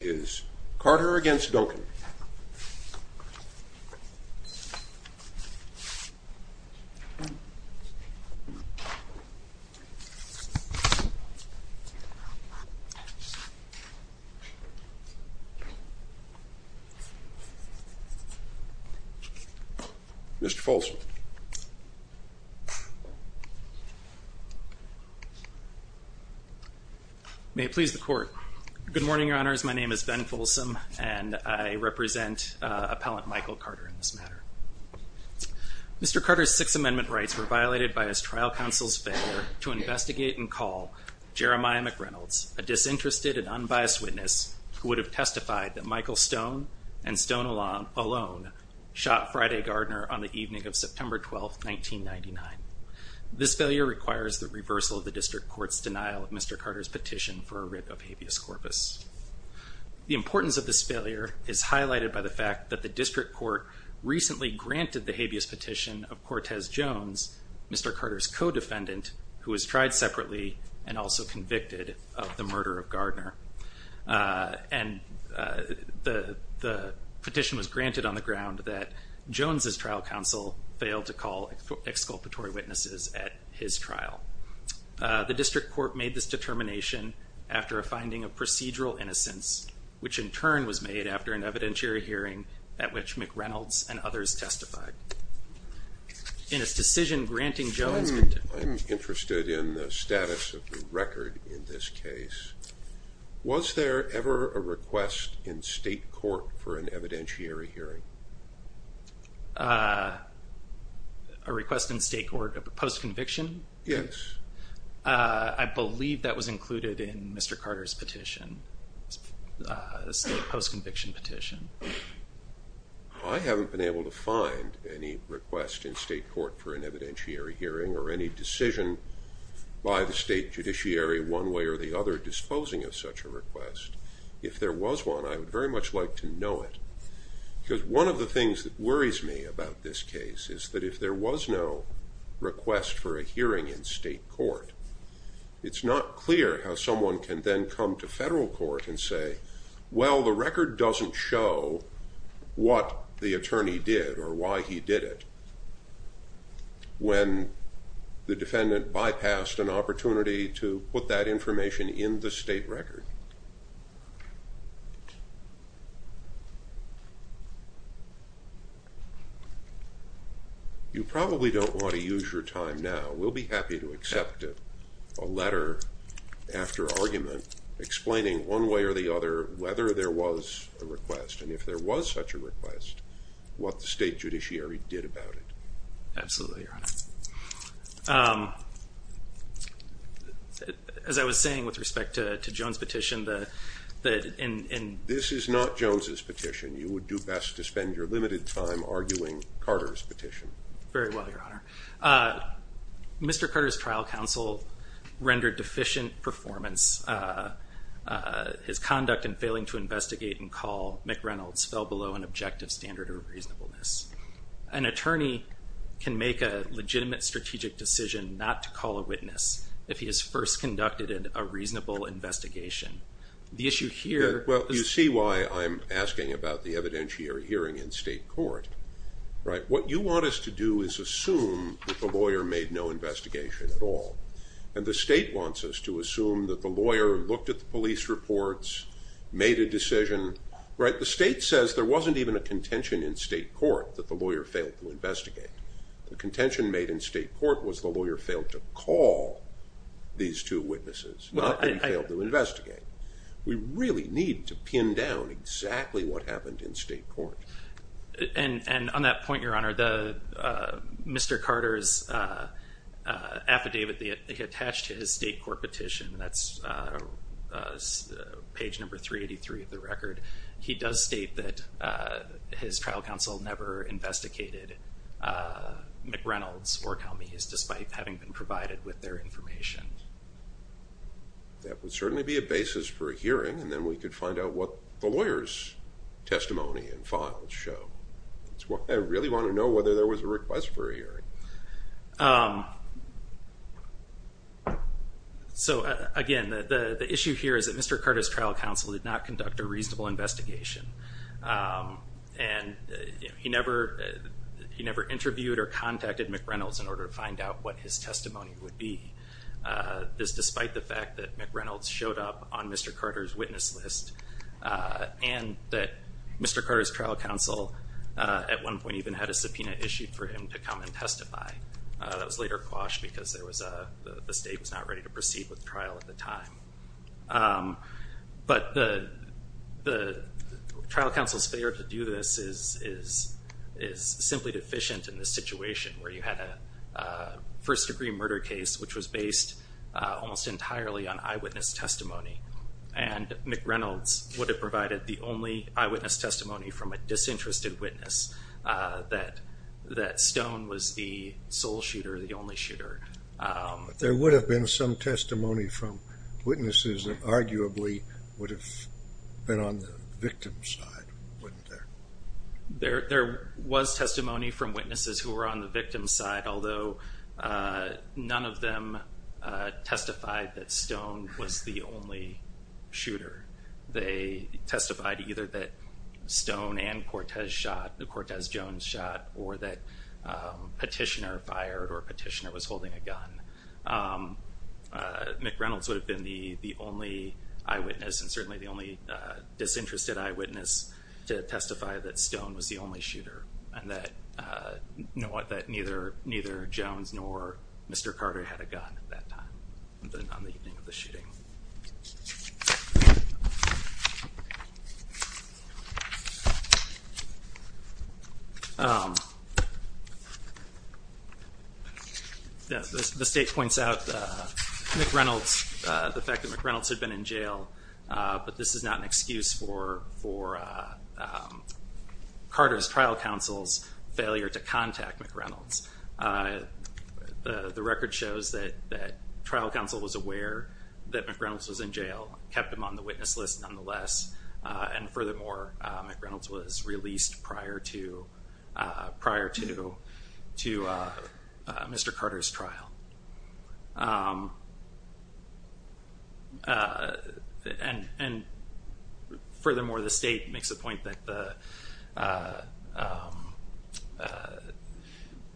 Mr. Folsom May it please the Court. Good morning, Your Honors. My name is Ben Folsom, and I represent Appellant Michael Carter in this matter. Mr. Carter's Sixth Amendment rights were violated by his trial counsel's failure to investigate and call Jeremiah McReynolds, a disinterested and unbiased witness who would have testified that Michael Stone and Stone alone shot Friday Gardner on the evening of September 12, 1999. This failure requires the reversal of the District Court's denial of Mr. Carter's petition for a writ of habeas corpus. The importance of this failure is highlighted by the fact that the District Court recently granted the habeas petition of Cortez Jones, Mr. Carter's co-defendant, who was tried separately and also convicted of the murder of Gardner. And the petition was granted on the ground that Jones's trial counsel failed to call exculpatory witnesses at his trial. The District Court made this determination after a finding of procedural innocence, which in turn was made after an evidentiary hearing at which McReynolds and others testified. In its decision granting Jones's petition... I'm interested in the status of the record in this case. Was there ever a request in state court for an evidentiary hearing? A request in state court? A proposed conviction? Yes. I believe that was included in Mr. Carter's petition, a state post-conviction petition. I haven't been able to find any request in state court for an evidentiary hearing or any decision by the state judiciary one way or the other disposing of such a request. If there was one, I would very much like to know it. Because one of the things that worries me about this case is that if there was no request for a hearing in state court, it's not clear how someone can then come to federal court and say, well, the record doesn't show what the attorney did or why he did it when the defendant bypassed an opportunity to put that information in the state record. Okay. You probably don't want to use your time now. We'll be happy to accept a letter after argument explaining one way or the other whether there was a request, and if there was such a request, what the state judiciary did about it. Absolutely, Your Honor. As I was saying with respect to Joan's petition, that in... This is not Joan's petition. You would do best to spend your limited time arguing Carter's petition. Very well, Your Honor. Mr. Carter's trial counsel rendered deficient performance. His conduct in failing to investigate and call McReynolds fell below an objective standard of reasonableness. An attorney can make a legitimate strategic decision not to call a witness if he has first conducted a reasonable investigation. The issue here... Well, you see why I'm asking about the evidentiary hearing in state court, right? What you want us to do is assume that the lawyer made no investigation at all, and the state wants us to assume that the lawyer looked at the police reports, made a decision, right? The state says there wasn't even a contention in state court that the lawyer failed to investigate. The contention made in state court was the lawyer failed to call these two witnesses, not that he failed to investigate. We really need to pin down exactly what happened in state court. On that point, Your Honor, Mr. Carter's affidavit attached to his state court petition, that's page number 383 of the record. He does state that his trial counsel never investigated McReynolds or Calmees, despite having been provided with their information. That would certainly be a basis for a hearing, and then we could find out what the lawyer's testimony and files show. That's why I really want to know whether there was a request for a hearing. So again, the issue here is that Mr. Carter's trial counsel did not conduct a reasonable investigation, and he never interviewed or contacted McReynolds in order to find out what his testimony would be, despite the fact that McReynolds showed up on Mr. Carter's witness list, and that Mr. Carter's trial counsel at one point even had a subpoena issued for him to come and testify. That was later quashed because the state was not ready to proceed with the trial at the time. But the trial counsel's failure to do this is simply deficient in the situation where you had a first-degree murder case which was based almost entirely on eyewitness testimony, and McReynolds would have provided the only eyewitness testimony from a disinterested witness, that Stone was the sole shooter, the only shooter. But there would have been some testimony from witnesses that arguably would have been on the victim's side, wouldn't there? There was testimony from witnesses who were on the victim's side, although none of them testified that Stone was the only shooter. They testified either that Stone and Cortez shot, that Cortez Jones shot, or that Petitioner fired or Petitioner was holding a gun. McReynolds would have been the only eyewitness, and certainly the only disinterested eyewitness, to testify that Stone was the only shooter, and that, you know what, that neither Jones nor Mr. Carter had a gun at that time, on the evening of the shooting. The state points out McReynolds, the fact that McReynolds had been in jail, but this is not an excuse for Carter's trial counsel's failure to contact McReynolds. The record shows that trial counsel was aware that McReynolds was in jail, kept him on the Mr. Carter's trial. And furthermore, the state makes a point that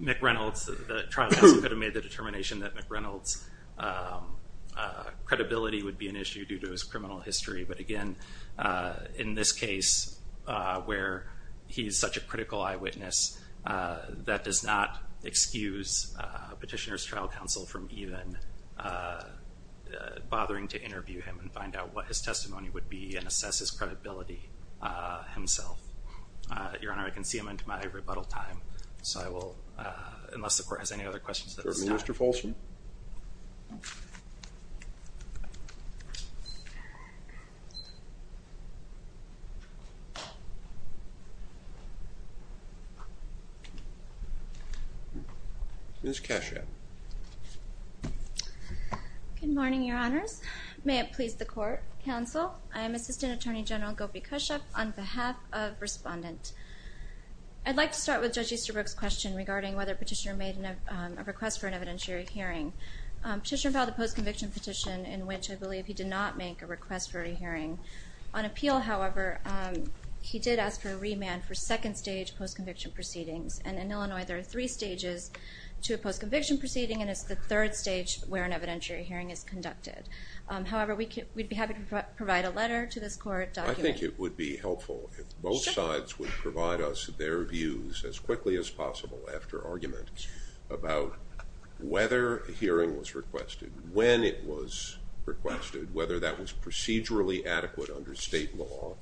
McReynolds, the trial counsel could have made the determination that McReynolds' credibility would be an issue due to his criminal history, but again, in this case, where he's such a critical eyewitness, that does not excuse Petitioner's trial counsel from even bothering to interview him and find out what his testimony would be and assess his credibility himself. Your Honor, I can see I'm into my rebuttal time, so I will, unless the Court has any other questions. Mr. Folsom. Ms. Kashuk. Good morning, Your Honors. May it please the Court, Counsel, I am Assistant Attorney General Gopi Kashuk on behalf of Respondent. I'd like to start with Judge Easterbrook's question regarding whether Petitioner made a request for an evidentiary hearing. Petitioner filed a post-conviction petition in which I believe he did not make a request for a hearing. On appeal, however, he did ask for a remand for second-stage post-conviction proceedings. And in Illinois, there are three stages to a post-conviction proceeding, and it's the third stage where an evidentiary hearing is conducted. However, we'd be happy to provide a letter to this Court documenting... I think it would be helpful if both sides would provide us their views as quickly as possible about whether a hearing was requested, when it was requested, whether that was procedurally adequate under state law,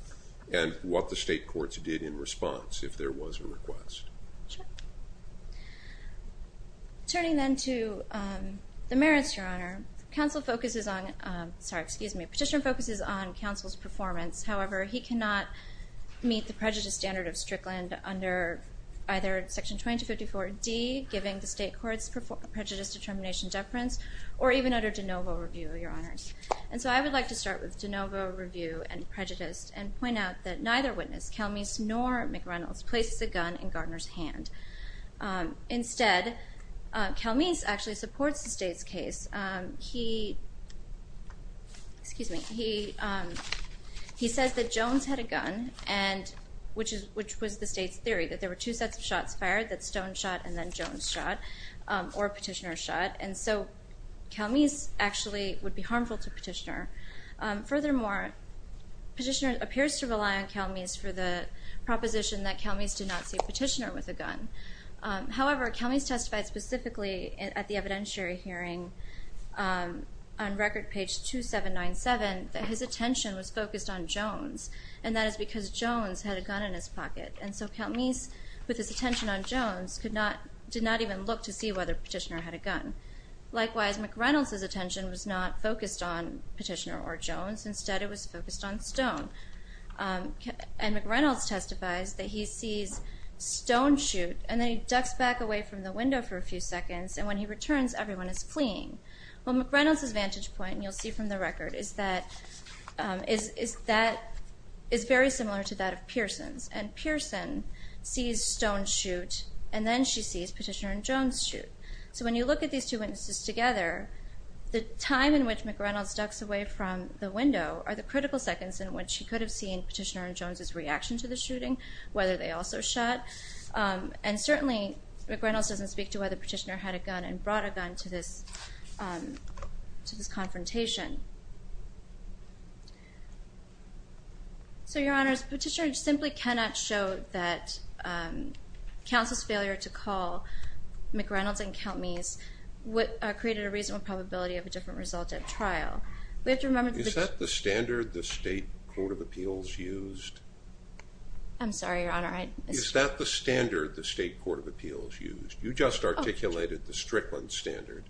and what the state courts did in response, if there was a request. Sure. Turning then to the merits, Your Honor. Counsel focuses on... Sorry, excuse me. Petitioner focuses on Counsel's performance. However, he cannot meet the prejudice standard of Strickland under either Section 2254D, giving the state courts prejudice determination deference, or even under de novo review, Your Honor. And so I would like to start with de novo review and prejudice, and point out that neither witness, Calmeese nor McReynolds, places a gun in Gardner's hand. Instead, Calmeese actually supports the state's case. He... Excuse me. He says that Jones had a gun, which was the state's theory, that there were two sets of guns, that Jones shot and then Jones shot, or Petitioner shot. And so Calmeese actually would be harmful to Petitioner. Furthermore, Petitioner appears to rely on Calmeese for the proposition that Calmeese did not see Petitioner with a gun. However, Calmeese testified specifically at the evidentiary hearing on record page 2797 that his attention was focused on Jones, and that is because Jones had a gun in his pocket. And so Calmeese, with his attention on Jones, did not even look to see whether Petitioner had a gun. Likewise, McReynolds' attention was not focused on Petitioner or Jones. Instead, it was focused on Stone. And McReynolds testifies that he sees Stone shoot, and then he ducks back away from the window for a few seconds, and when he returns, everyone is fleeing. Well, McReynolds' vantage point, and you'll see from the record, is that... the person sees Stone shoot, and then she sees Petitioner and Jones shoot. So when you look at these two witnesses together, the time in which McReynolds ducks away from the window are the critical seconds in which she could have seen Petitioner and Jones' reaction to the shooting, whether they also shot. And certainly, McReynolds doesn't speak to whether Petitioner had a gun and brought a gun to this confrontation. So, Your Honor, Petitioner simply cannot show that counsel's failure to call McReynolds and Count Meese created a reasonable probability of a different result at trial. We have to remember... Is that the standard the State Court of Appeals used? I'm sorry, Your Honor, I... Is that the standard the State Court of Appeals used? You just articulated the Strickland standard.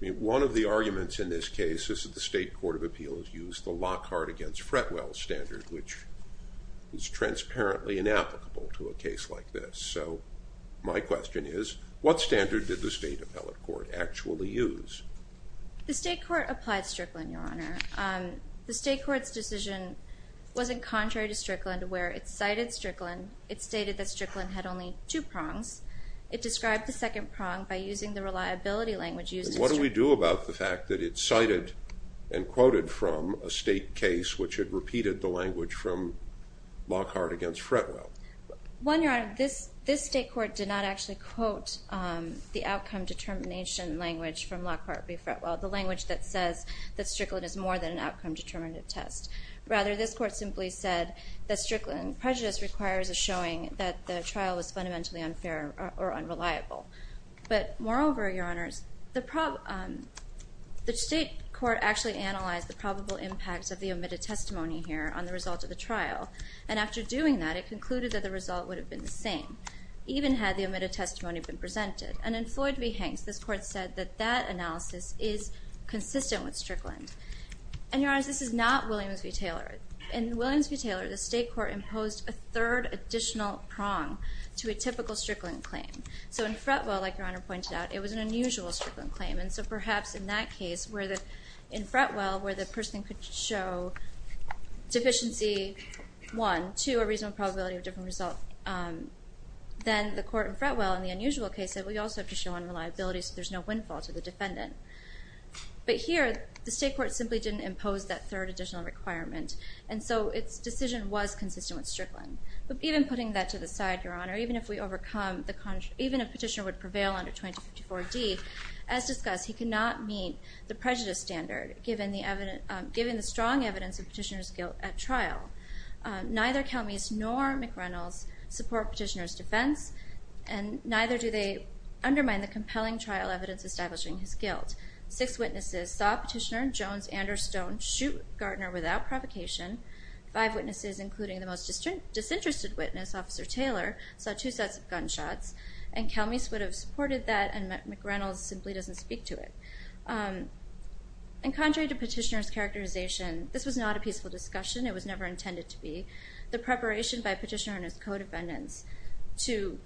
One of the arguments in this case is that the State Court of Appeals used the Lockhart against Fretwell standard, which is transparently inapplicable to a case like this. So my question is, what standard did the State Appellate Court actually use? The State Court applied Strickland, Your Honor. The State Court's decision wasn't contrary to Strickland, where it cited Strickland. It stated that Strickland had only two prongs. It described the second prong by using the reliability language used in Strickland. What do we do about the fact that it cited and quoted from a State case which had repeated the language from Lockhart against Fretwell? One, Your Honor, this State Court did not actually quote the outcome determination language from Lockhart v. Fretwell, the language that says that Strickland is more than an outcome determinative test. Rather, this Court simply said that Strickland prejudice requires a showing that the trial was fundamentally unfair or unreliable. But moreover, Your Honors, the State Court actually analyzed the probable impact of the omitted testimony here on the result of the trial. And after doing that, it concluded that the result would have been the same, even had the omitted testimony been presented. And in Floyd v. Hanks, this Court said that that analysis is consistent with Strickland. And Your Honors, this is not Williams v. Taylor. In Williams v. Taylor, the State Court imposed a third additional prong to a typical Strickland claim. So in Fretwell, like Your Honor pointed out, it was an unusual Strickland claim. And so perhaps in that case, in Fretwell, where the person could show deficiency, one, two, a reasonable probability of different results, then the Court in Fretwell in the unusual case said, we also have to show unreliability so there's no windfall to the defendant. But here, the State Court simply didn't impose that third additional requirement. And so its decision was consistent with Strickland. But even putting that to the side, Your Honor, even if a petitioner would prevail under 2054d, as discussed, he cannot meet the prejudice standard given the strong evidence of petitioner's guilt at trial. Neither Calmes nor McReynolds support petitioner's defense and neither do they undermine the compelling trial evidence establishing his guilt. Six witnesses saw Petitioner, Jones, Anders, Stone, shoot Gardner without provocation. Five witnesses, including the most disinterested witness, Officer Taylor, saw two sets of gunshots. And Calmes would have supported that and McReynolds simply doesn't speak to it. And contrary to Petitioner's characterization, this was not a peaceful discussion. It was never intended to be. The preparation by Petitioner and his co-defendants to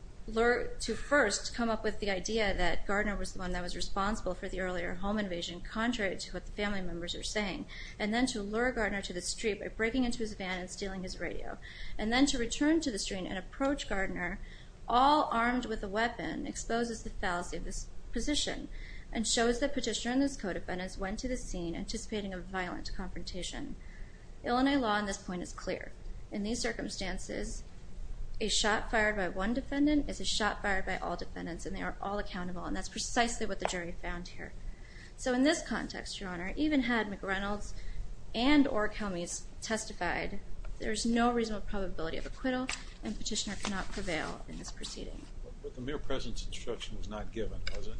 first come up with the idea that Gardner was the one that was responsible for the earlier home invasion, contrary to what the family members are saying, and then to lure Gardner to the street by breaking into his van and stealing his radio, and then to return to the street and approach Gardner, all armed with a weapon, exposes the fallacy of this position and shows that Petitioner and his co-defendants went to the scene anticipating a violent confrontation. Illinois law on this point is clear. In these circumstances, a shot fired by one defendant is a shot fired by all defendants and they are all accountable. And that's precisely what the jury found here. So in this context, Your Honor, even had McReynolds and or Calmes testified, there's no reasonable probability of acquittal and Petitioner could not prevail in this proceeding. But the mere presence instruction was not given, was it?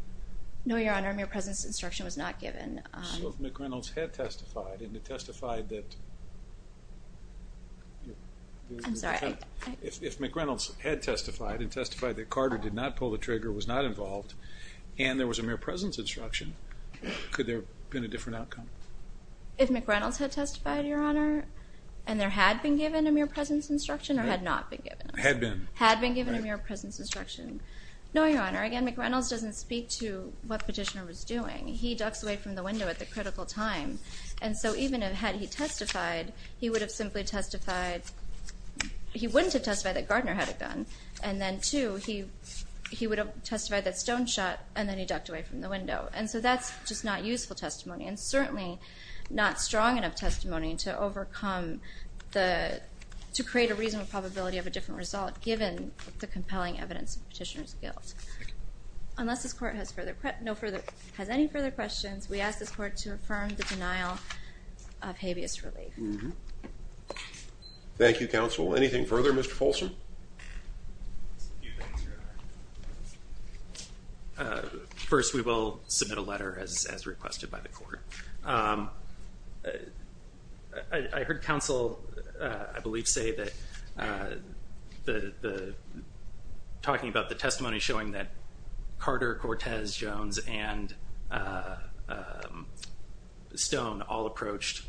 No, Your Honor. Mere presence instruction was not given. So if McReynolds had testified and had testified that... I'm sorry. If McReynolds had testified and testified that Carter did not pull the trigger, was not involved, and there was a mere presence instruction, could there have been a different outcome? If McReynolds had testified, Your Honor, and there had been given a mere presence instruction or had not been given? Had been. Had been given a mere presence instruction. No, Your Honor. Again, McReynolds doesn't speak to what Petitioner was doing. He ducks away from the window at the critical time. And so even had he testified, he would have simply testified... He wouldn't have testified that Gardner had a gun. And then two, he would have testified that Stone shot and then he ducked away from the window. And so that's just not useful testimony and certainly not strong enough testimony to overcome the... to create a reasonable probability of a different result given the compelling evidence of Petitioner's guilt. Unless this Court has further... has any further questions, we ask this Court to affirm the denial of habeas relief. Thank you, Counsel. Anything further, Mr. Folsom? First, we will submit a letter as requested by the Court. I heard Counsel, I believe, say that talking about the testimony showing that Carter, Cortez, Jones, and Stone all approached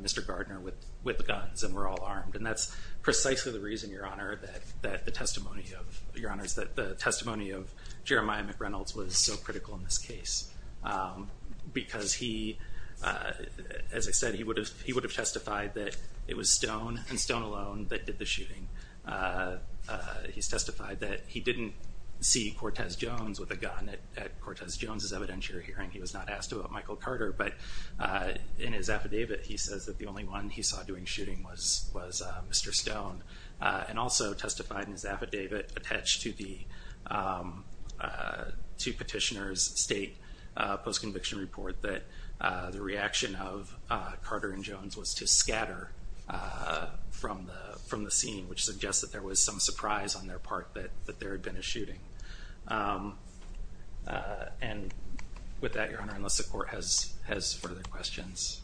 Mr. Gardner with guns and were all armed. And that's precisely the reason, Your Honor, that the testimony of Jeremiah McReynolds was so critical in this case. Because he, as I said, he would have testified that it was Stone and Stone alone that did the shooting. He's testified that he didn't see Cortez Jones with a gun at Cortez Jones' evidentiary hearing. He was not asked about his affidavit. He says that the only one he saw doing shooting was Mr. Stone. And also testified in his affidavit attached to the petitioner's state post-conviction report that the reaction of Carter and Jones was to scatter from the scene, which suggests that there was some surprise on their part that there had been a shooting. And with that, Your Honor, unless the Court has further questions,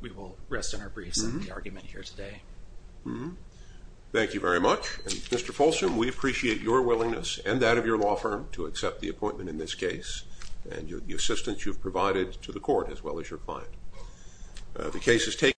we will rest in our briefs on the argument here today. Thank you very much. Mr. Folsom, we appreciate your willingness and that of your law firm to accept the appointment in this case and the assistance you've provided to the Court as well as your client.